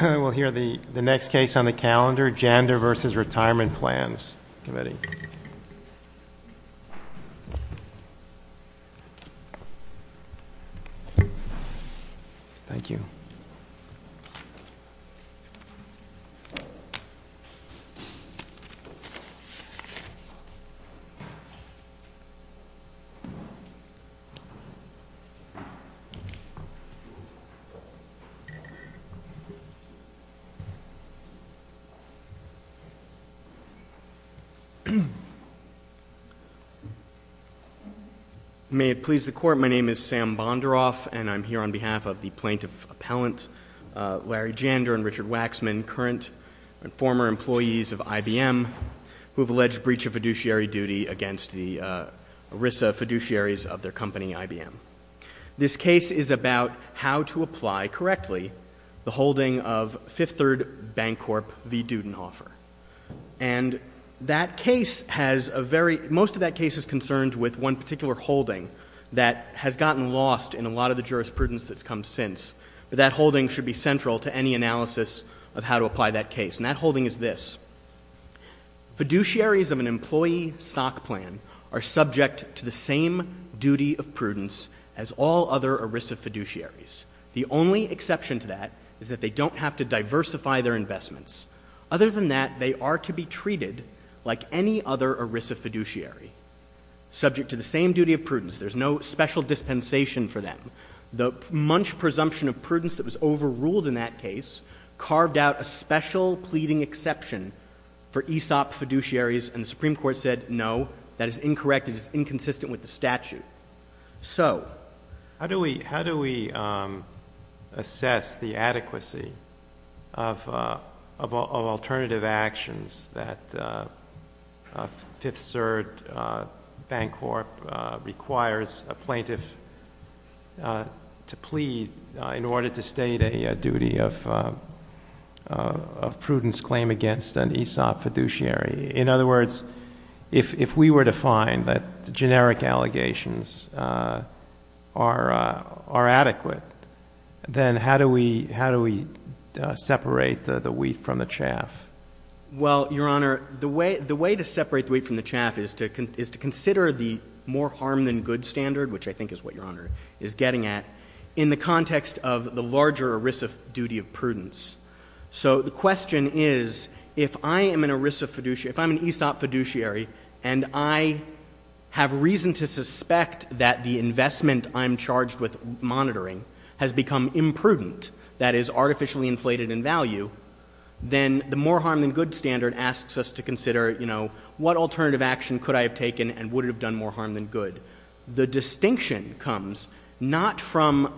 We'll hear the next case on the calendar, Jander v. Retirement Plans Committee. Thank you. May it please the Court, my name is Sam Bonderoff and I'm here on behalf of the Plaintiff Appellant Larry Jander and Richard Waxman, current and former employees of IBM, who have alleged breach of fiduciary duty against the ERISA fiduciaries of their company IBM. This case is about how to apply correctly the holding of Fifth Third Bancorp v. Dudenhofer. And that case has a very, most of that case is concerned with one particular holding that has gotten lost in a lot of the jurisprudence that's come since. But that holding should be central to any analysis of how to apply that case. And that holding is this. Fiduciaries of an employee stock plan are subject to the same duty of prudence as all other ERISA fiduciaries. The only exception to that is that they don't have to diversify their investments. Other than that, they are to be treated like any other ERISA fiduciary, subject to the same duty of prudence. There's no special dispensation for them. The munch presumption of prudence that was overruled in that case carved out a special pleading exception for ESOP fiduciaries. And the Supreme Court said, no, that is incorrect. It is inconsistent with the statute. So how do we assess the adequacy of alternative actions that Fifth CERT Bancorp requires a plaintiff to plead in order to state a duty of prudence claim against an ESOP fiduciary? In other words, if we were to find that generic allegations are adequate, then how do we separate the wheat from the chaff? Well, Your Honor, the way to separate the wheat from the chaff is to consider the more harm than good standard, which I think is what Your Honor is getting at, in the context of the larger ERISA duty of prudence. So the question is, if I am an ERISA fiduciary, if I'm an ESOP fiduciary, and I have reason to suspect that the investment I'm charged with monitoring has become imprudent, that is artificially inflated in value, then the more harm than good standard asks us to consider, you know, what alternative action could I have taken and would it have done more harm than good? The distinction comes not from,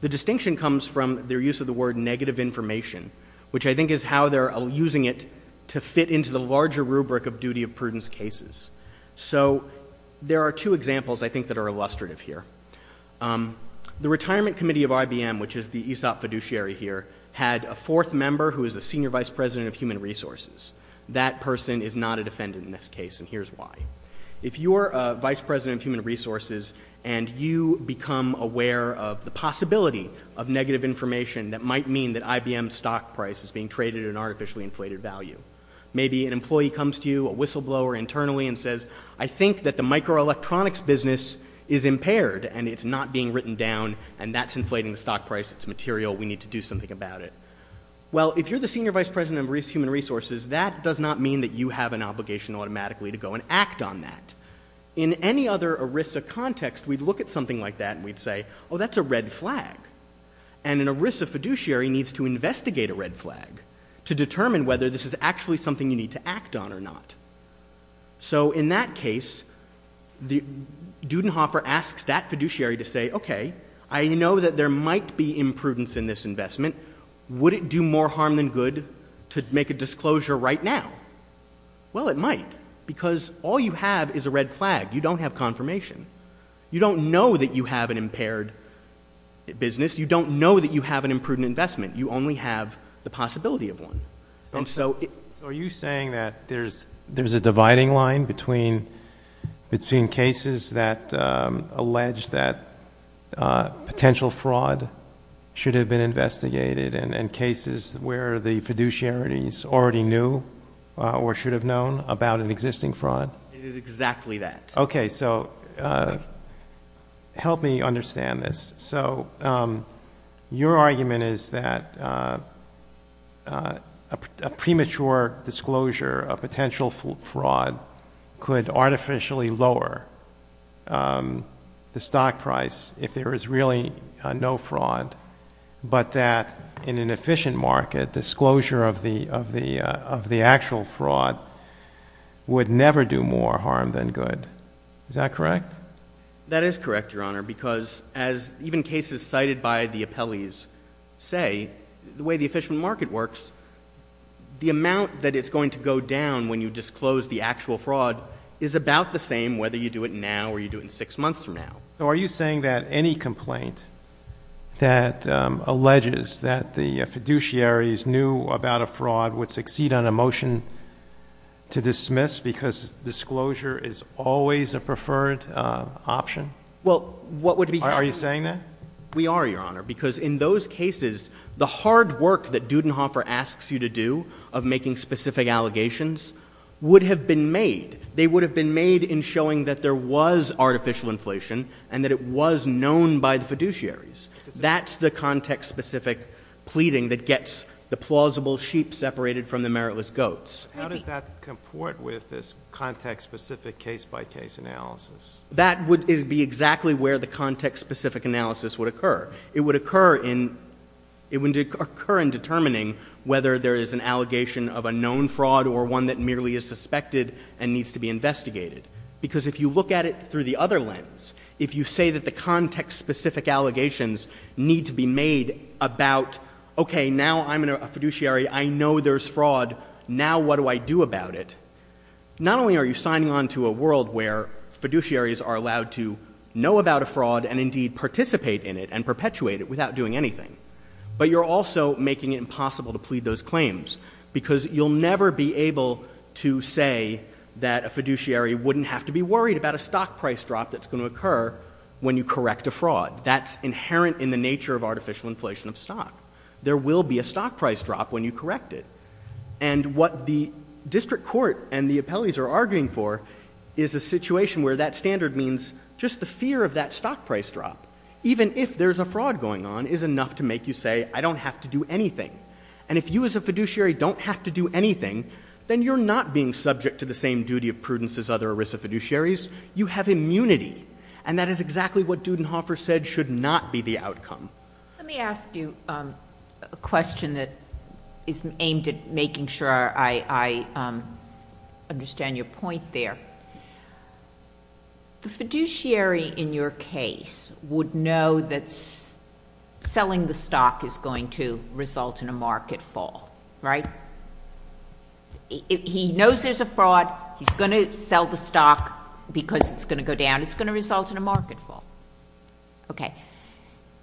the distinction comes from their use of the word negative information, which I think is how they're using it to fit into the larger rubric of duty of prudence cases. So there are two examples I think that are illustrative here. The Retirement Committee of IBM, which is the ESOP fiduciary here, had a fourth member who is a Senior Vice President of Human Resources. That person is not a defendant in this case, and here's why. If you're a Vice President of Human Resources and you become aware of the possibility of negative information that might mean that IBM's stock price is being traded at an artificially inflated value. Maybe an employee comes to you, a whistleblower internally, and says, I think that the microelectronics business is impaired and it's not being written down and that's inflating the stock price, it's material, we need to do something about it. Well, if you're the Senior Vice President of Human Resources, that does not mean that you have an obligation automatically to go and act on that. In any other ERISA context, we'd look at something like that and we'd say, oh, that's a red flag, and an ERISA fiduciary needs to investigate a red flag to determine whether this is actually something you need to act on or not. So in that case, Dudenhofer asks that fiduciary to say, okay, I know that there might be imprudence in this investment, would it do more harm than good to make a disclosure right now? Well, it might, because all you have is a red flag. You don't have confirmation. You don't know that you have an impaired business. You don't know that you have an imprudent investment. You only have the possibility of one. So are you saying that there's a dividing line between cases that allege that fraud should have been investigated and cases where the fiduciaries already knew or should have known about an existing fraud? It is exactly that. Okay, so help me understand this. So your argument is that a premature disclosure of potential fraud could artificially lower the stock price if there is really no fraud, but that in an efficient market, disclosure of the actual fraud would never do more harm than good. Is that correct? That is correct, Your Honor, because as even cases cited by the appellees say, the way the efficient market works, the amount that it's going to go down when you disclose the actual fraud is about the same whether you do it now or you do it six months from now. So are you saying that any complaint that alleges that the fiduciaries knew about a fraud would succeed on a motion to dismiss because disclosure is always a preferred option? Are you saying that? We are, Your Honor, because in those cases, the hard work that Dudenhofer asks you to do of making specific allegations would have been made. They would have been made in showing that there was artificial inflation and that it was known by the fiduciaries. That's the context-specific pleading that gets the plausible sheep separated from the meritless goats. How does that comport with this context-specific case-by-case analysis? That would be exactly where the context-specific analysis would occur. It would occur in determining whether there is an allegation of a known fraud or one that merely is suspected and needs to be investigated. Because if you look at it through the other lens, if you say that the context-specific allegations need to be made about, okay, now I'm a fiduciary, I know there's fraud, now what do I do about it? Not only are you signing on to a world where fiduciaries are allowed to know about a fraud and indeed participate in it and perpetuate it without doing anything, but you're also making it impossible to plead those claims because you'll never be able to say that a fiduciary wouldn't have to be worried about a stock price drop that's going to occur when you correct a fraud. That's inherent in the nature of artificial inflation of stock. There will be a stock price drop when you correct it. And what the district court and the appellees are arguing for is a situation where that standard means just the fear of that stock price drop, even if there's a fraud going on, is enough to make you say, I don't have to do anything. And if you as a fiduciary don't have to do anything, then you're not being subject to the same duty of prudence as other ERISA fiduciaries. You have immunity. And that is exactly what Dudenhofer said should not be the outcome. Let me ask you a question that is aimed at making sure I understand your point there. The fiduciary in your case would know that selling the stock is going to result in a market fall. Right? He knows there's a fraud. He's going to sell the stock because it's going to go down. It's going to result in a market fall. Okay.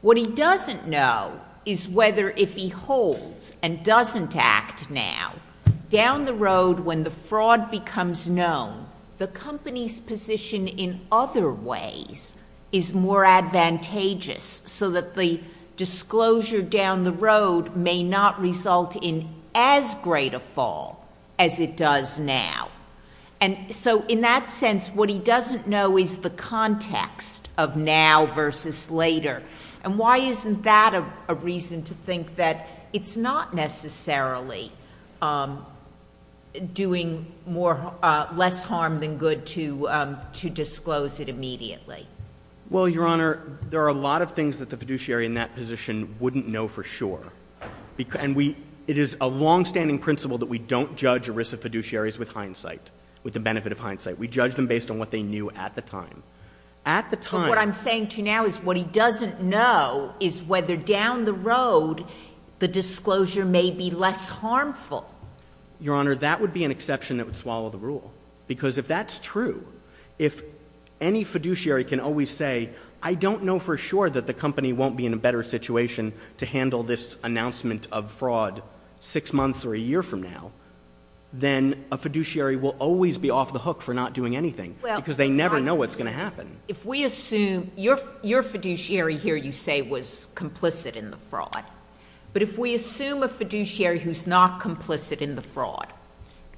What he doesn't know is whether if he holds and doesn't act now, down the road when the fraud becomes known, the company's position in other ways is more advantageous so that the disclosure down the road may not result in as great a fall as it does now. And so in that sense, what he doesn't know is the context of now versus later. And why isn't that a reason to think that it's not necessarily doing less harm than good to disclose it immediately? Well, Your Honor, there are a lot of things that the fiduciary in that position wouldn't know for sure. And it is a longstanding principle that we don't judge ERISA fiduciaries with hindsight, with the benefit of hindsight. We judge them based on what they knew at the time. But what I'm saying to you now is what he doesn't know is whether down the road the disclosure may be less harmful. Your Honor, that would be an exception that would swallow the rule. Because if that's true, if any fiduciary can always say, I don't know for sure that the company won't be in a better situation to handle this announcement of fraud six months or a year from now, then a fiduciary will always be off the hook for not doing anything because they never know what's going to happen. If we assume your fiduciary here, you say, was complicit in the fraud. But if we assume a fiduciary who's not complicit in the fraud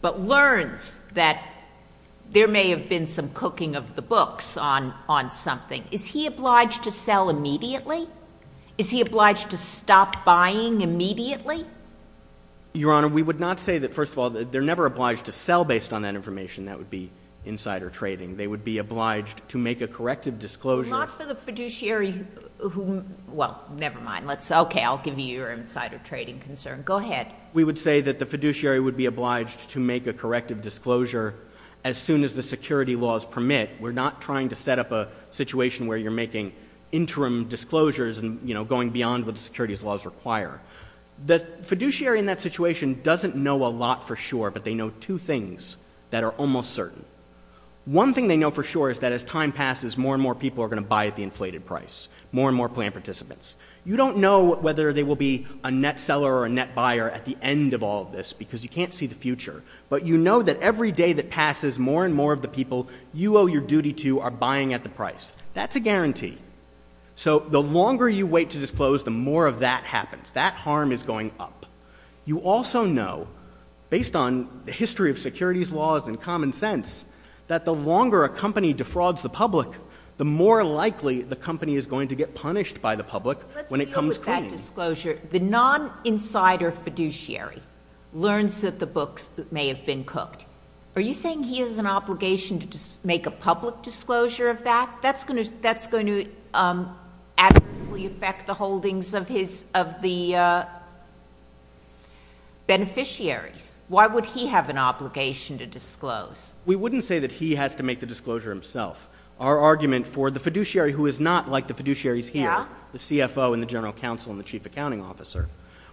but learns that there may have been some cooking of the books on something, is he obliged to sell immediately? Is he obliged to stop buying immediately? Your Honor, we would not say that, first of all, they're never obliged to sell based on that information. That would be insider trading. They would be obliged to make a corrective disclosure. Not for the fiduciary who, well, never mind. Okay, I'll give you your insider trading concern. Go ahead. We would say that the fiduciary would be obliged to make a corrective disclosure as soon as the security laws permit. We're not trying to set up a situation where you're making interim disclosures and going beyond what the securities laws require. The fiduciary in that situation doesn't know a lot for sure, but they know two things that are almost certain. One thing they know for sure is that as time passes, more and more people are going to buy at the inflated price, more and more plan participants. You don't know whether they will be a net seller or a net buyer at the end of all of this because you can't see the future. But you know that every day that passes, more and more of the people you owe your duty to are buying at the price. That's a guarantee. So the longer you wait to disclose, the more of that happens. That harm is going up. You also know, based on the history of securities laws and common sense, that the longer a company defrauds the public, the more likely the company is going to get punished by the public when it comes clean. Let's deal with that disclosure. The non-insider fiduciary learns that the books may have been cooked. Are you saying he has an obligation to make a public disclosure of that? That's going to adversely affect the holdings of the beneficiaries. Why would he have an obligation to disclose? We wouldn't say that he has to make the disclosure himself. Our argument for the fiduciary who is not like the fiduciaries here, the CFO and the general counsel and the chief accounting officer,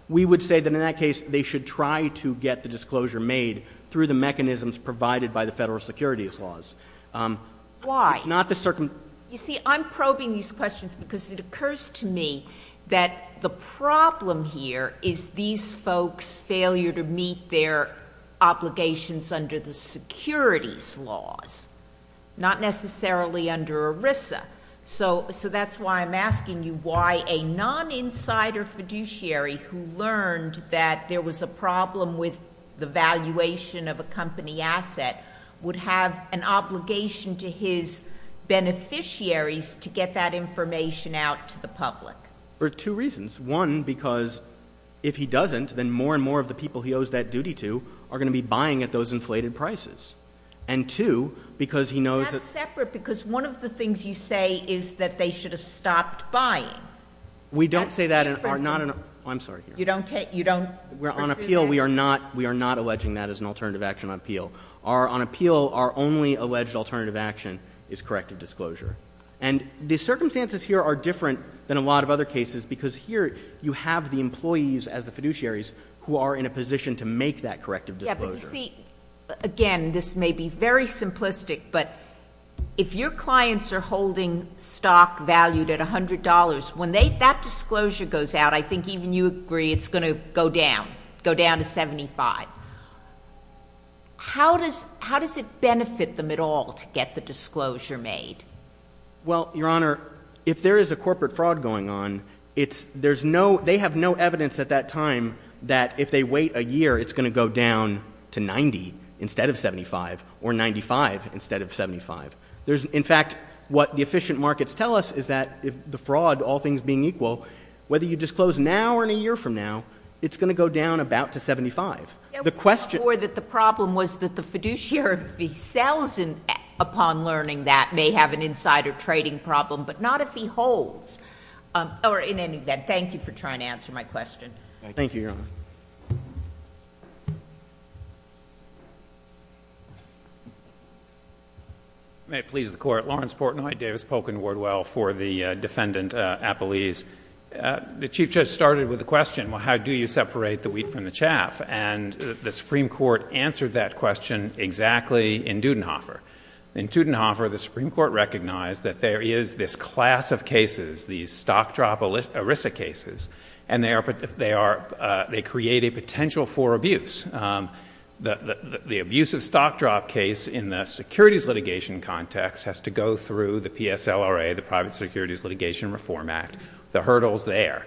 we would say that in that case they should try to get the disclosure made through the mechanisms provided by the federal securities laws. Why? It's not the circumstances. You see, I'm probing these questions because it occurs to me that the problem here is these folks' failure to meet their obligations under the securities laws, not necessarily under ERISA. So that's why I'm asking you why a non-insider fiduciary who learned that there was a valuation of a company asset would have an obligation to his beneficiaries to get that information out to the public. For two reasons. One, because if he doesn't, then more and more of the people he owes that duty to are going to be buying at those inflated prices. And two, because he knows that — That's separate because one of the things you say is that they should have stopped buying. We don't say that in our — I'm sorry. You don't take — you don't pursue that? We're on appeal. We are not alleging that as an alternative action on appeal. On appeal, our only alleged alternative action is corrective disclosure. And the circumstances here are different than a lot of other cases because here you have the employees as the fiduciaries who are in a position to make that corrective disclosure. Yeah, but you see, again, this may be very simplistic, but if your clients are holding stock valued at $100, when that disclosure goes out, I think even you agree it's going to go down, go down to $75. How does it benefit them at all to get the disclosure made? Well, Your Honor, if there is a corporate fraud going on, they have no evidence at that time that if they wait a year, it's going to go down to $90 instead of $75 or $95 instead of $75. In fact, what the efficient markets tell us is that the fraud, all things being equal, whether you disclose now or in a year from now, it's going to go down about to $75. The question— The problem was that the fiduciary, if he sells upon learning that, may have an insider trading problem, but not if he holds. In any event, thank you for trying to answer my question. Thank you, Your Honor. May it please the Court. Lawrence Portnoy, Davis Polk & Wardwell for the Defendant Appellees. The Chief Judge started with the question, well, how do you separate the wheat from the chaff? And the Supreme Court answered that question exactly in Dudenhofer. In Dudenhofer, the Supreme Court recognized that there is this class of cases, these stock drop ERISA cases, and they create a potential for abuse. The abusive stock drop case in the securities litigation context has to go through the PSLRA, the Private Securities Litigation Reform Act, the hurdles there.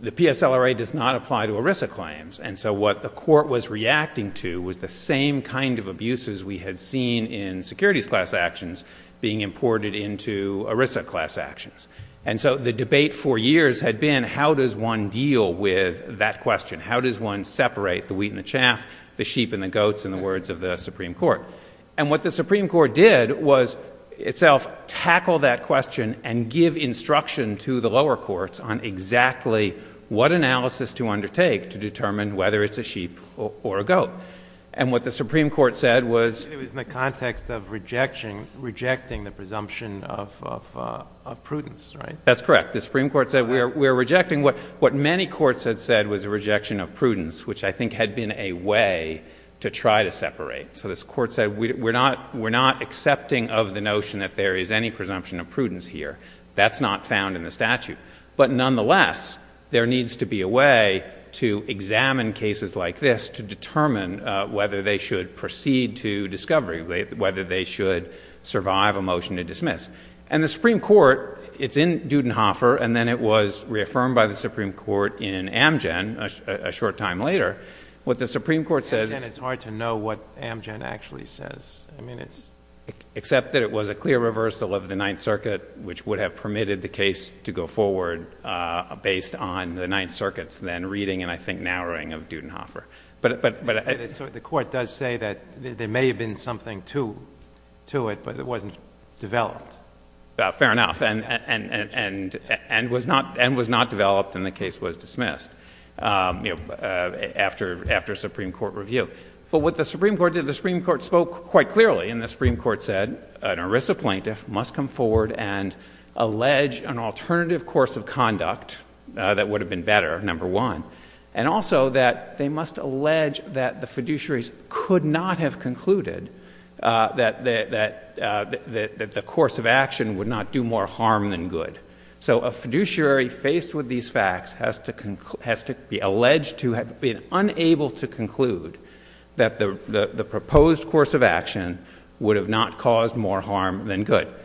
The PSLRA does not apply to ERISA claims, and so what the court was reacting to was the same kind of abuses we had seen in securities class actions being imported into ERISA class actions. And so the debate for years had been, how does one deal with that question? How does one separate the wheat and the chaff, the sheep and the goats, in the words of the Supreme Court? And what the Supreme Court did was itself tackle that question and give instruction to the lower courts on exactly what analysis to undertake to determine whether it's a sheep or a goat. And what the Supreme Court said was... You're rejecting the presumption of prudence, right? That's correct. The Supreme Court said we're rejecting what many courts had said was a rejection of prudence, which I think had been a way to try to separate. So this court said we're not accepting of the notion that there is any presumption of prudence here. That's not found in the statute. But nonetheless, there needs to be a way to examine cases like this to determine whether they should proceed to discovery, whether they should survive a motion to dismiss. And the Supreme Court, it's in Dudenhofer, and then it was reaffirmed by the Supreme Court in Amgen a short time later. What the Supreme Court says... Amgen, it's hard to know what Amgen actually says. I mean, it's... Except that it was a clear reversal of the Ninth Circuit, which would have permitted the case to go forward based on the Ninth Circuit's then reading and I think narrowing of Dudenhofer. But... So the court does say that there may have been something to it, but it wasn't developed. Fair enough, and was not developed, and the case was dismissed after Supreme Court review. But what the Supreme Court did, the Supreme Court spoke quite clearly, and the Supreme Court said an ERISA plaintiff must come forward and allege an alternative course of conduct that would have been better, number one, and also that they must allege that the fiduciaries could not have concluded that the course of action would not do more harm than good. So a fiduciary faced with these facts has to be alleged to have been unable to conclude that the proposed course of action would have not caused more harm than good. But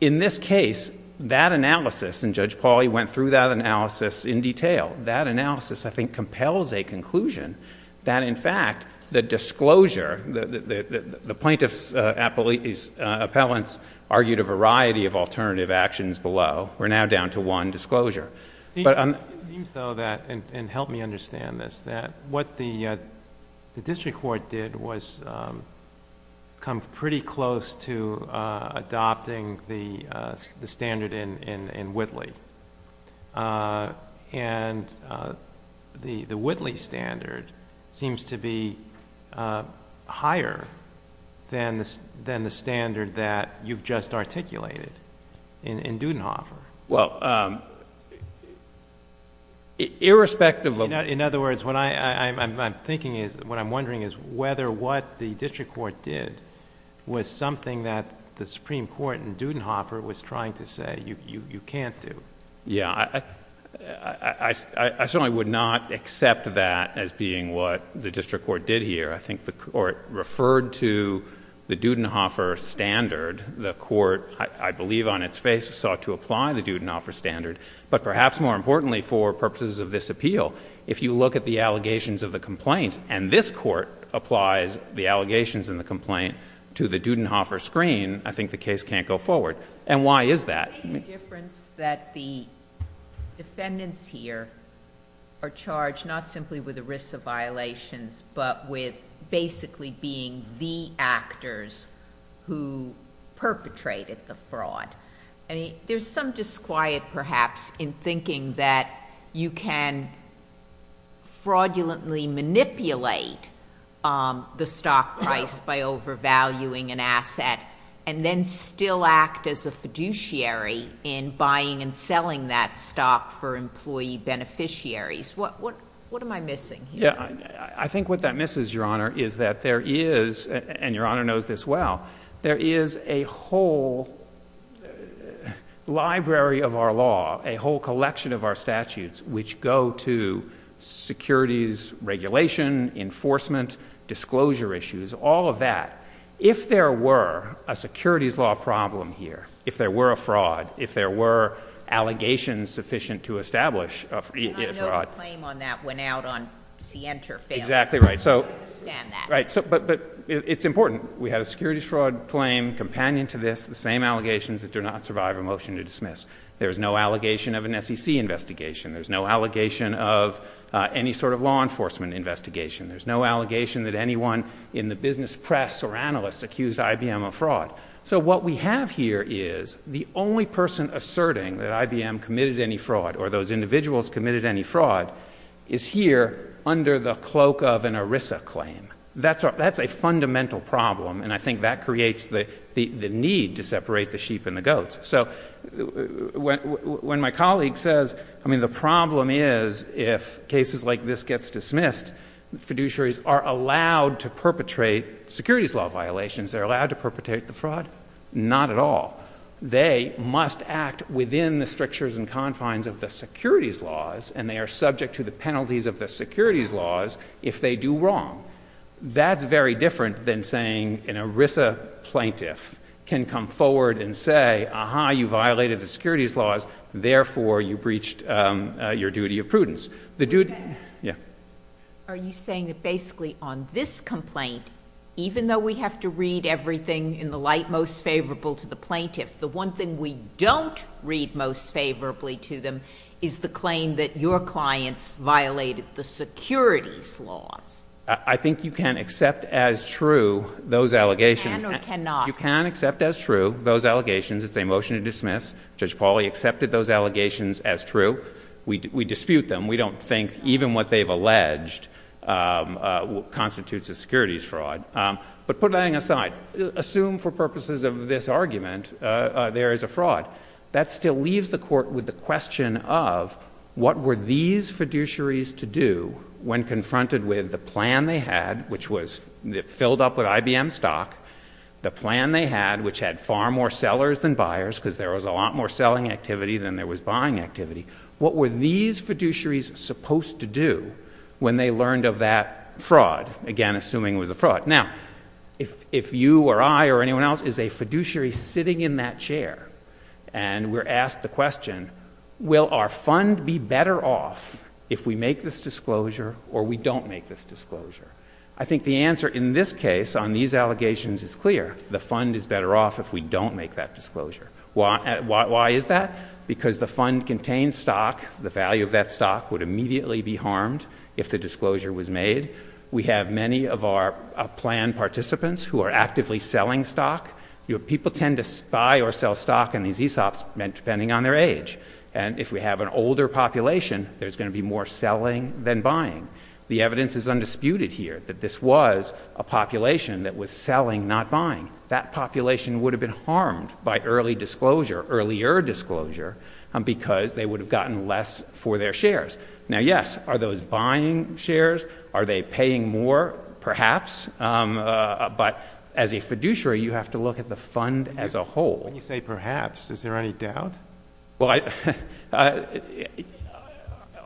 in this case, that analysis, and Judge Pauly went through that analysis in detail, that analysis I think compels a conclusion that in fact the disclosure... the plaintiff's appellants argued a variety of alternative actions below. We're now down to one disclosure. It seems though that, and help me understand this, that what the district court did was come pretty close to adopting the standard in Whitley, and the Whitley standard seems to be higher than the standard that you've just articulated in Dudenhofer. Well, irrespective of... In other words, what I'm thinking is, what I'm wondering is whether what the district court did was something that the Supreme Court in Dudenhofer was trying to say you can't do. Yeah. I certainly would not accept that as being what the district court did here. I think the court referred to the Dudenhofer standard. The court, I believe on its face, sought to apply the Dudenhofer standard. But perhaps more importantly for purposes of this appeal, if you look at the allegations of the complaint, and this court applies the allegations in the complaint to the Dudenhofer screen, I think the case can't go forward. And why is that? I think the difference that the defendants here are charged not simply with the risks of violations, but with basically being the actors who perpetrated the fraud. There's some disquiet, perhaps, in thinking that you can fraudulently manipulate the stock price by overvaluing an asset and then still act as a fiduciary in buying and selling that stock for employee beneficiaries. What am I missing here? I think what that misses, Your Honor, is that there is, and Your Honor knows this well, there is a whole library of our law, a whole collection of our statutes, which go to securities regulation, enforcement, disclosure issues, all of that. If there were a securities law problem here, if there were a fraud, if there were allegations sufficient to establish a fraud. The claim on that went out on Center Film. Exactly right. I understand that. But it's important. We have a securities fraud claim companion to this, the same allegations that do not survive a motion to dismiss. There's no allegation of an SEC investigation. There's no allegation of any sort of law enforcement investigation. There's no allegation that anyone in the business press or analysts accused IBM of fraud. So what we have here is the only person asserting that IBM committed any fraud or those individuals committed any fraud is here under the cloak of an ERISA claim. That's a fundamental problem, and I think that creates the need to separate the sheep and the goats. So when my colleague says, I mean, the problem is if cases like this gets dismissed, fiduciaries are allowed to perpetrate securities law violations. They're allowed to perpetrate the fraud. Not at all. They must act within the strictures and confines of the securities laws, and they are subject to the penalties of the securities laws if they do wrong. That's very different than saying an ERISA plaintiff can come forward and say, aha, you violated the securities laws, therefore you breached your duty of prudence. Are you saying that basically on this complaint, even though we have to read everything in the light most favorable to the plaintiff, the one thing we don't read most favorably to them is the claim that your clients violated the securities laws? I think you can accept as true those allegations. You can or cannot? You can accept as true those allegations. It's a motion to dismiss. Judge Pauly accepted those allegations as true. We dispute them. We don't think even what they've alleged constitutes a securities fraud. But put that aside. Assume for purposes of this argument there is a fraud. That still leaves the court with the question of what were these fiduciaries to do when confronted with the plan they had, which was filled up with IBM stock, the plan they had, which had far more sellers than buyers because there was a lot more selling activity than there was buying activity. What were these fiduciaries supposed to do when they learned of that fraud, again, assuming it was a fraud? Now, if you or I or anyone else is a fiduciary sitting in that chair and we're asked the question, will our fund be better off if we make this disclosure or we don't make this disclosure, I think the answer in this case on these allegations is clear. The fund is better off if we don't make that disclosure. Why is that? Because the fund contains stock. The value of that stock would immediately be harmed if the disclosure was made. We have many of our plan participants who are actively selling stock. People tend to buy or sell stock in these ESOPs depending on their age. And if we have an older population, there's going to be more selling than buying. The evidence is undisputed here that this was a population that was selling, not buying. That population would have been harmed by early disclosure, earlier disclosure, because they would have gotten less for their shares. Now, yes, are those buying shares? Are they paying more? Perhaps. But as a fiduciary, you have to look at the fund as a whole. When you say perhaps, is there any doubt? Well,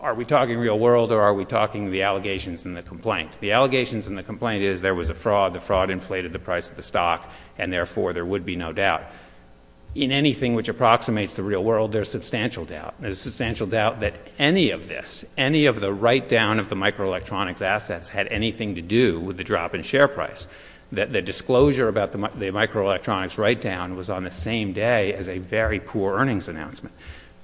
are we talking real world or are we talking the allegations and the complaint? The allegations and the complaint is there was a fraud. The fraud inflated the price of the stock, and, therefore, there would be no doubt. In anything which approximates the real world, there's substantial doubt. There's substantial doubt that any of this, any of the write-down of the microelectronics assets, had anything to do with the drop in share price, that the disclosure about the microelectronics write-down was on the same day as a very poor earnings announcement.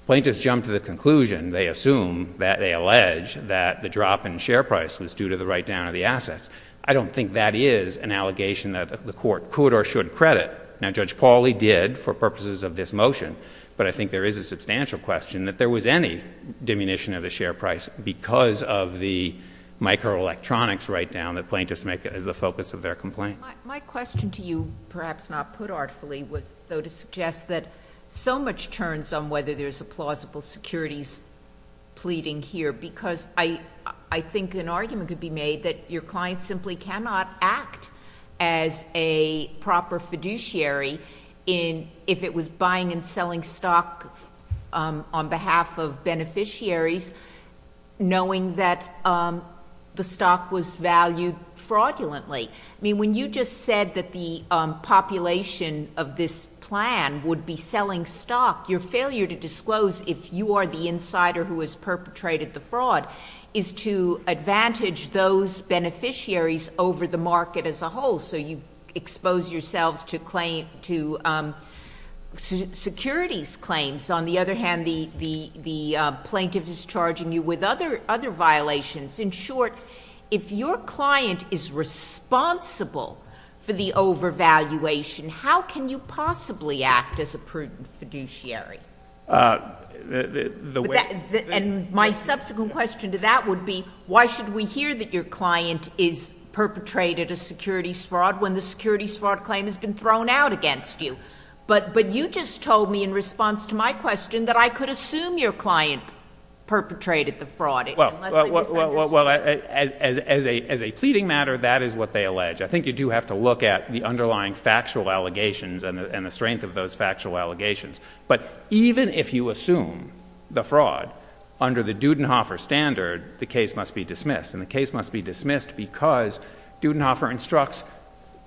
Plaintiffs jumped to the conclusion, they assume, that they allege, that the drop in share price was due to the write-down of the assets. I don't think that is an allegation that the court could or should credit. Now, Judge Pauly did for purposes of this motion, but I think there is a substantial question that there was any diminution of the share price because of the microelectronics write-down that plaintiffs make as the focus of their complaint. My question to you, perhaps not put artfully, was, though, to suggest that so much turns on whether there's a plausible securities pleading here because I think an argument could be made that your client simply cannot act as a proper fiduciary if it was buying and selling stock on behalf of beneficiaries, knowing that the stock was valued fraudulently. I mean, when you just said that the population of this plan would be selling stock, your failure to disclose if you are the insider who has perpetrated the fraud is to advantage those beneficiaries over the market as a whole, so you expose yourselves to securities claims. On the other hand, the plaintiff is charging you with other violations. In short, if your client is responsible for the overvaluation, how can you possibly act as a prudent fiduciary? And my subsequent question to that would be, why should we hear that your client has perpetrated a securities fraud when the securities fraud claim has been thrown out against you? But you just told me in response to my question that I could assume your client perpetrated the fraud. Well, as a pleading matter, that is what they allege. I think you do have to look at the underlying factual allegations and the strength of those factual allegations. But even if you assume the fraud under the Dudenhofer standard, the case must be dismissed. And the case must be dismissed because Dudenhofer instructs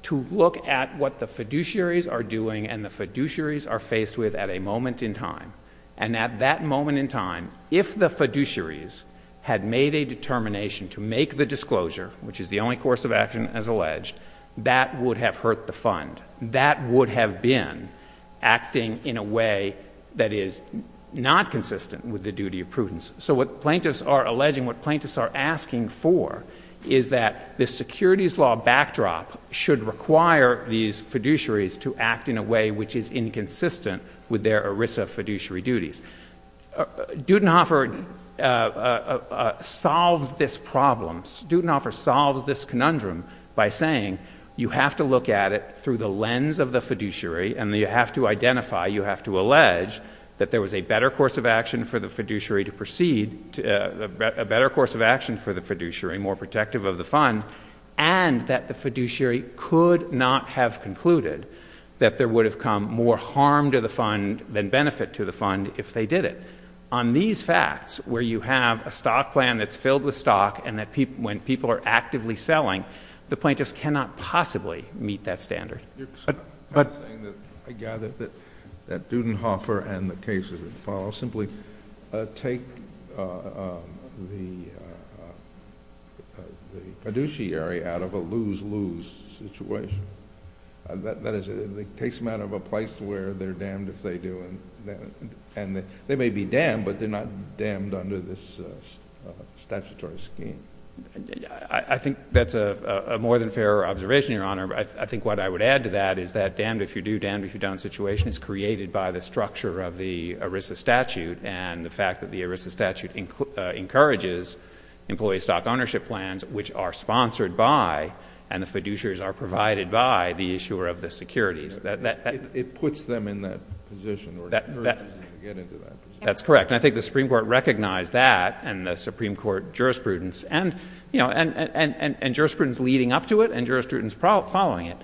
to look at what the fiduciaries are doing and the fiduciaries are faced with at a moment in time. And at that moment in time, if the fiduciaries had made a determination to make the disclosure, which is the only course of action as alleged, that would have hurt the fund. That would have been acting in a way that is not consistent with the duty of prudence. So what plaintiffs are alleging, what plaintiffs are asking for, is that the securities law backdrop should require these fiduciaries to act in a way which is inconsistent with their ERISA fiduciary duties. Dudenhofer solves this problem. Dudenhofer solves this conundrum by saying you have to look at it through the lens of the fiduciary and you have to identify, you have to allege that there was a better course of action for the fiduciary to proceed, a better course of action for the fiduciary, more protective of the fund, and that the fiduciary could not have concluded that there would have come more harm to the fund than benefit to the fund if they did it. On these facts, where you have a stock plan that's filled with stock and when people are actively selling, the plaintiffs cannot possibly meet that standard. I gather that Dudenhofer and the cases that follow simply take the fiduciary out of a lose-lose situation. That is, it takes them out of a place where they're damned if they do. And they may be damned, but they're not damned under this statutory scheme. I think that's a more than fair observation, Your Honor. I think what I would add to that is that damned if you do, damned if you don't situation is created by the structure of the ERISA statute and the fact that the ERISA statute encourages employee stock ownership plans, which are sponsored by and the fiduciaries are provided by the issuer of the securities. It puts them in that position or encourages them to get into that position. That's correct. And I think the Supreme Court recognized that and the Supreme Court jurisprudence and jurisprudence leading up to it and jurisprudence following it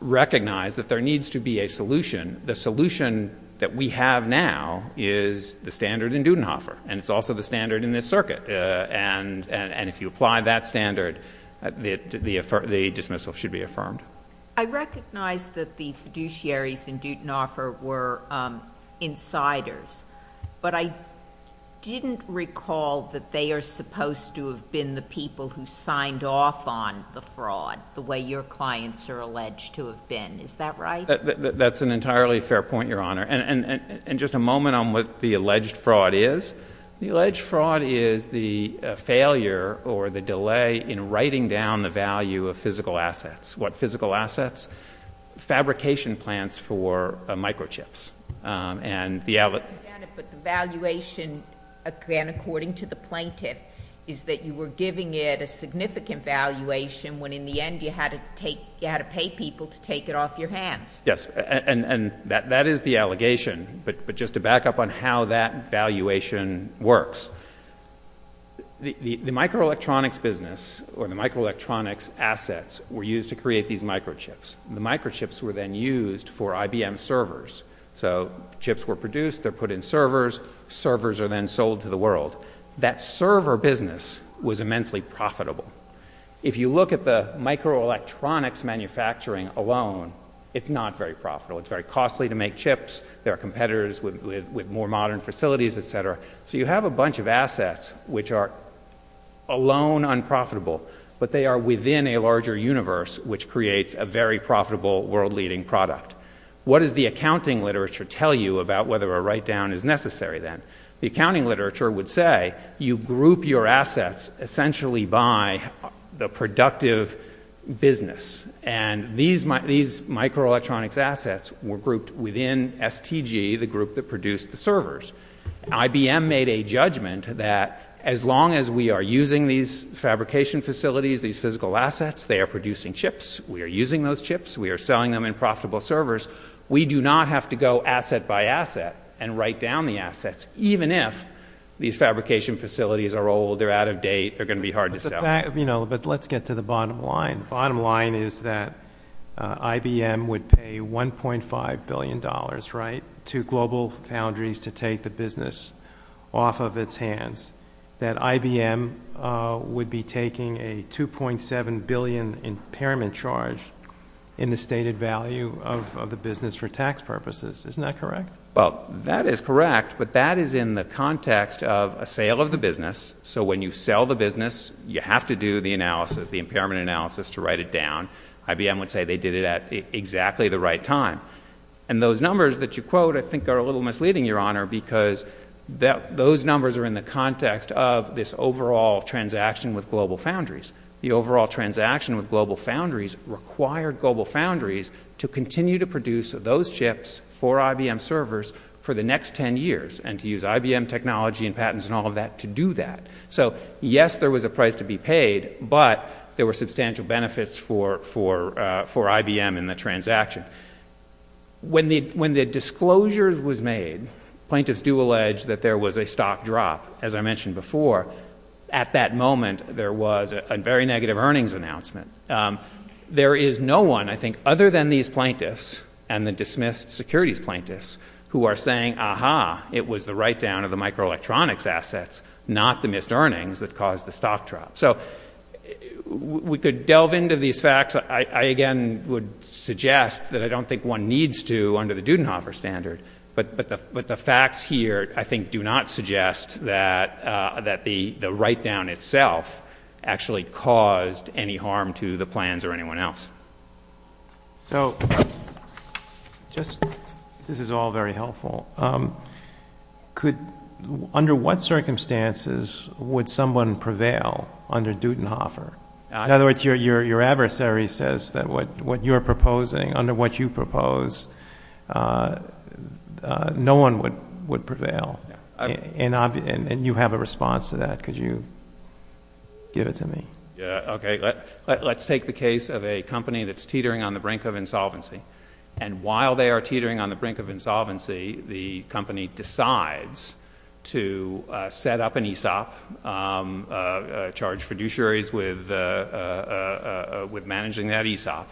recognized that there needs to be a solution. The solution that we have now is the standard in Dudenhofer, and it's also the standard in this circuit. And if you apply that standard, the dismissal should be affirmed. I recognize that the fiduciaries in Dudenhofer were insiders, but I didn't recall that they are supposed to have been the people who signed off on the fraud the way your clients are alleged to have been. Is that right? That's an entirely fair point, Your Honor. And just a moment on what the alleged fraud is. The alleged fraud is the failure or the delay in writing down the value of physical assets. What physical assets? Fabrication plants for microchips. But the valuation, again, according to the plaintiff, is that you were giving it a significant valuation when in the end you had to pay people to take it off your hands. Yes, and that is the allegation. But just to back up on how that valuation works, the microelectronics business or the microelectronics assets were used to create these microchips. The microchips were then used for IBM servers. So chips were produced. They're put in servers. Servers are then sold to the world. That server business was immensely profitable. If you look at the microelectronics manufacturing alone, it's not very profitable. It's very costly to make chips. There are competitors with more modern facilities, et cetera. So you have a bunch of assets which are alone unprofitable, but they are within a larger universe which creates a very profitable world-leading product. What does the accounting literature tell you about whether a write-down is necessary then? The accounting literature would say you group your assets essentially by the productive business. And these microelectronics assets were grouped within STG, the group that produced the servers. IBM made a judgment that as long as we are using these fabrication facilities, these physical assets, they are producing chips. We are using those chips. We are selling them in profitable servers. We do not have to go asset by asset and write down the assets, even if these fabrication facilities are old, they're out of date, they're going to be hard to sell. But let's get to the bottom line. The bottom line is that IBM would pay $1.5 billion to GlobalFoundries to take the business off of its hands, that IBM would be taking a $2.7 billion impairment charge in the stated value of the business for tax purposes. Isn't that correct? Well, that is correct, but that is in the context of a sale of the business. So when you sell the business, you have to do the analysis, the impairment analysis to write it down. IBM would say they did it at exactly the right time. And those numbers that you quote I think are a little misleading, Your Honor, because those numbers are in the context of this overall transaction with GlobalFoundries. The overall transaction with GlobalFoundries required GlobalFoundries to continue to produce those chips for IBM servers for the next 10 years and to use IBM technology and patents and all of that to do that. So, yes, there was a price to be paid, but there were substantial benefits for IBM in the transaction. When the disclosure was made, plaintiffs do allege that there was a stock drop, as I mentioned before. At that moment, there was a very negative earnings announcement. There is no one, I think, other than these plaintiffs and the dismissed securities plaintiffs, who are saying, aha, it was the write-down of the microelectronics assets, not the missed earnings that caused the stock drop. So we could delve into these facts. I, again, would suggest that I don't think one needs to under the Dudenhofer standard, but the facts here, I think, do not suggest that the write-down itself actually caused any harm to the plans or anyone else. So, this is all very helpful. Under what circumstances would someone prevail under Dudenhofer? In other words, your adversary says that what you're proposing, under what you propose, no one would prevail. And you have a response to that. Could you give it to me? Okay. Let's take the case of a company that's teetering on the brink of insolvency. And while they are teetering on the brink of insolvency, the company decides to set up an ESOP, charge fiduciaries with managing that ESOP.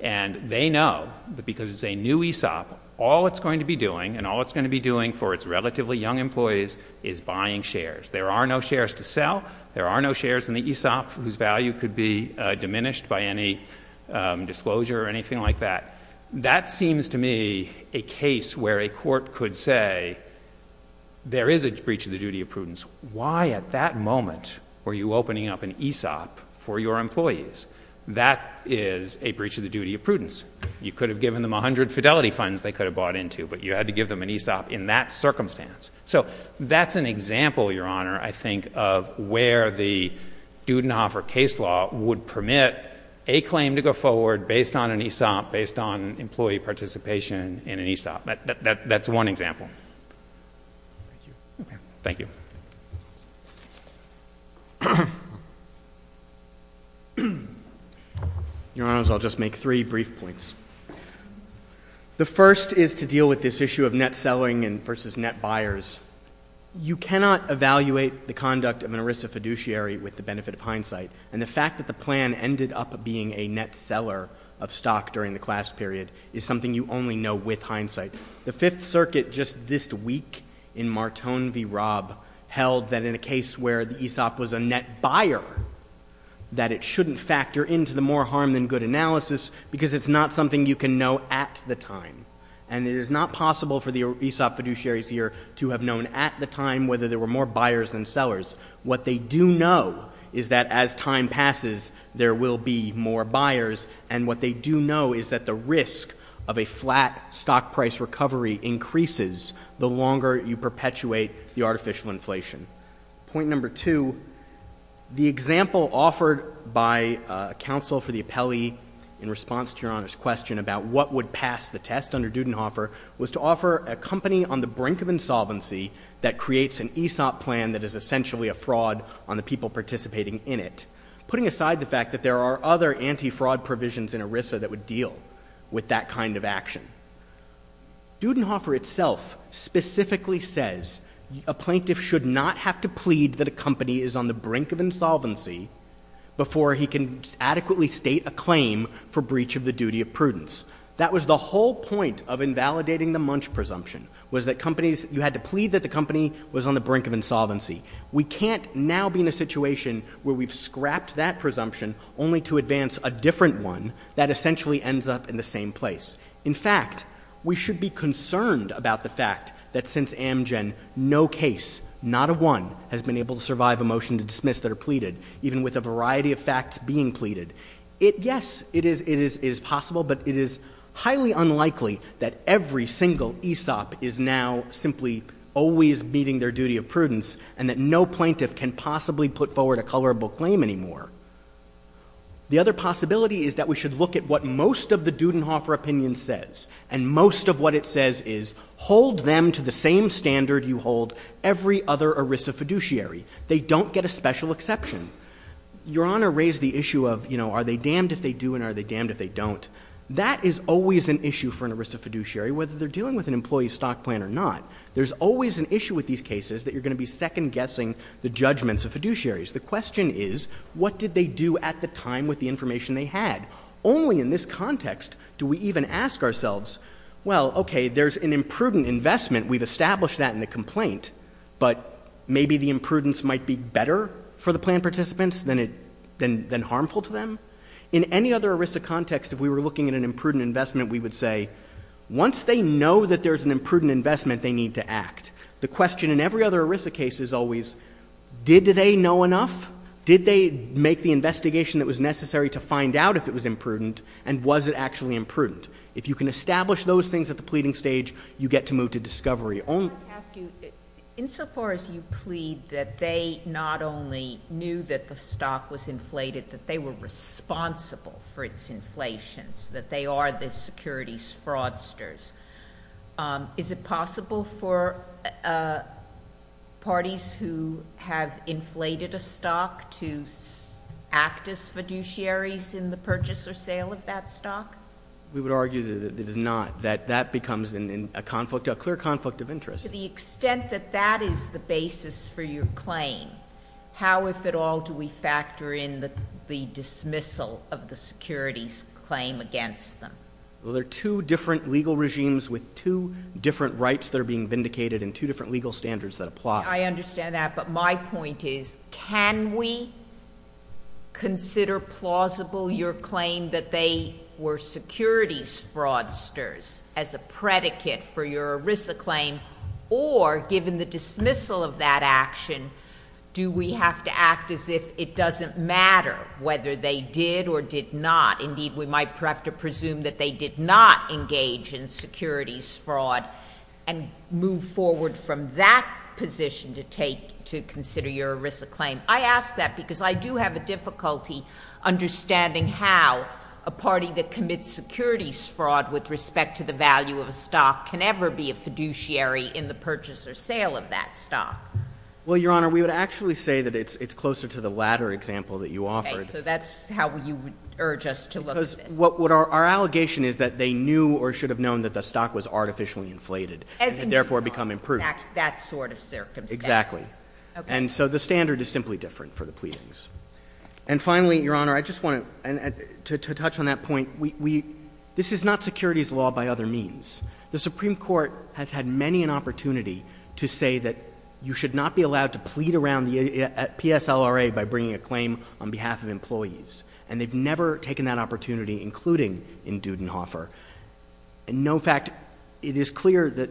And they know that because it's a new ESOP, all it's going to be doing, and all it's going to be doing for its relatively young employees, is buying shares. There are no shares to sell. There are no shares in the ESOP whose value could be diminished by any disclosure or anything like that. That seems to me a case where a court could say there is a breach of the duty of prudence. Why at that moment were you opening up an ESOP for your employees? That is a breach of the duty of prudence. You could have given them 100 Fidelity funds they could have bought into, but you had to give them an ESOP in that circumstance. So that's an example, Your Honor, I think, of where the Dudenhoffer case law would permit a claim to go forward based on an ESOP, based on employee participation in an ESOP. That's one example. Thank you. Your Honors, I'll just make three brief points. The first is to deal with this issue of net selling versus net buyers. You cannot evaluate the conduct of an ERISA fiduciary with the benefit of hindsight, and the fact that the plan ended up being a net seller of stock during the class period is something you only know with hindsight. The Fifth Circuit just this week in Martone v. Robb held that in a case where the ESOP was a net buyer, that it shouldn't factor into the more harm than good analysis because it's not something you can know at the time. And it is not possible for the ESOP fiduciaries here to have known at the time whether there were more buyers than sellers. What they do know is that as time passes, there will be more buyers, and what they do know is that the risk of a flat stock price recovery increases the longer you perpetuate the artificial inflation. Point number two, the example offered by counsel for the appellee in response to Your Honors' question about what would pass the test under Dudenhofer was to offer a company on the brink of insolvency that creates an ESOP plan that is essentially a fraud on the people participating in it, putting aside the fact that there are other anti-fraud provisions in ERISA that would deal with that kind of action. Dudenhofer itself specifically says a plaintiff should not have to plead that a company is on the brink of insolvency before he can adequately state a claim for breach of the duty of prudence. That was the whole point of invalidating the Munch presumption, was that companies, you had to plead that the company was on the brink of insolvency. We can't now be in a situation where we've scrapped that presumption only to advance a different one that essentially ends up in the same place. In fact, we should be concerned about the fact that since Amgen, no case, not a one, has been able to survive a motion to dismiss that are pleaded, even with a variety of facts being pleaded. Yes, it is possible, but it is highly unlikely that every single ESOP is now simply always meeting their duty of prudence and that no plaintiff can possibly put forward a colorable claim anymore. The other possibility is that we should look at what most of the Dudenhofer opinion says, and most of what it says is hold them to the same standard you hold every other ERISA fiduciary. They don't get a special exception. Your Honor raised the issue of, you know, are they damned if they do and are they damned if they don't. That is always an issue for an ERISA fiduciary, whether they're dealing with an employee stock plan or not. There's always an issue with these cases that you're going to be second-guessing the judgments of fiduciaries. The question is, what did they do at the time with the information they had? Only in this context do we even ask ourselves, well, okay, there's an imprudent investment. We've established that in the complaint, but maybe the imprudence might be better for the plan participants than harmful to them. In any other ERISA context, if we were looking at an imprudent investment, we would say, once they know that there's an imprudent investment, they need to act. The question in every other ERISA case is always, did they know enough? Did they make the investigation that was necessary to find out if it was imprudent, and was it actually imprudent? If you can establish those things at the pleading stage, you get to move to discovery. I wanted to ask you, insofar as you plead that they not only knew that the stock was inflated, that they were responsible for its inflation, that they are the securities fraudsters, is it possible for parties who have inflated a stock to act as fiduciaries in the purchase or sale of that stock? We would argue that it is not, that that becomes a conflict, a clear conflict of interest. To the extent that that is the basis for your claim, how, if at all, do we factor in the dismissal of the securities claim against them? There are two different legal regimes with two different rights that are being vindicated and two different legal standards that apply. I understand that, but my point is, can we consider plausible your claim that they were securities fraudsters as a predicate for your ERISA claim, or, given the dismissal of that action, do we have to act as if it doesn't matter whether they did or did not? Indeed, we might have to presume that they did not engage in securities fraud and move forward from that position to take, to consider your ERISA claim. I ask that because I do have a difficulty understanding how a party that commits securities fraud with respect to the value of a stock can ever be a fiduciary in the purchase or sale of that stock. Well, Your Honor, we would actually say that it's closer to the latter example that you offered. So that's how you would urge us to look at this? Because what our allegation is that they knew or should have known that the stock was artificially inflated. As indeed on that sort of circumstance. Exactly. Okay. And so the standard is simply different for the pleadings. And finally, Your Honor, I just want to touch on that point. This is not securities law by other means. The Supreme Court has had many an opportunity to say that you should not be allowed to plead around the PSLRA by bringing a claim on behalf of employees. And they've never taken that opportunity, including in Dudenhofer. In no fact, it is clear that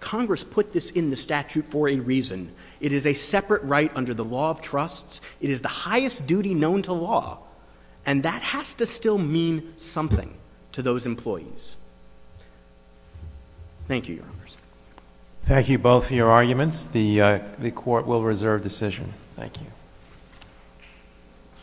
Congress put this in the statute for a reason. It is a separate right under the law of trusts. It is the highest duty known to law. And that has to still mean something to those employees. Thank you, Your Honors. Thank you both for your arguments. The Court will reserve decision. Thank you.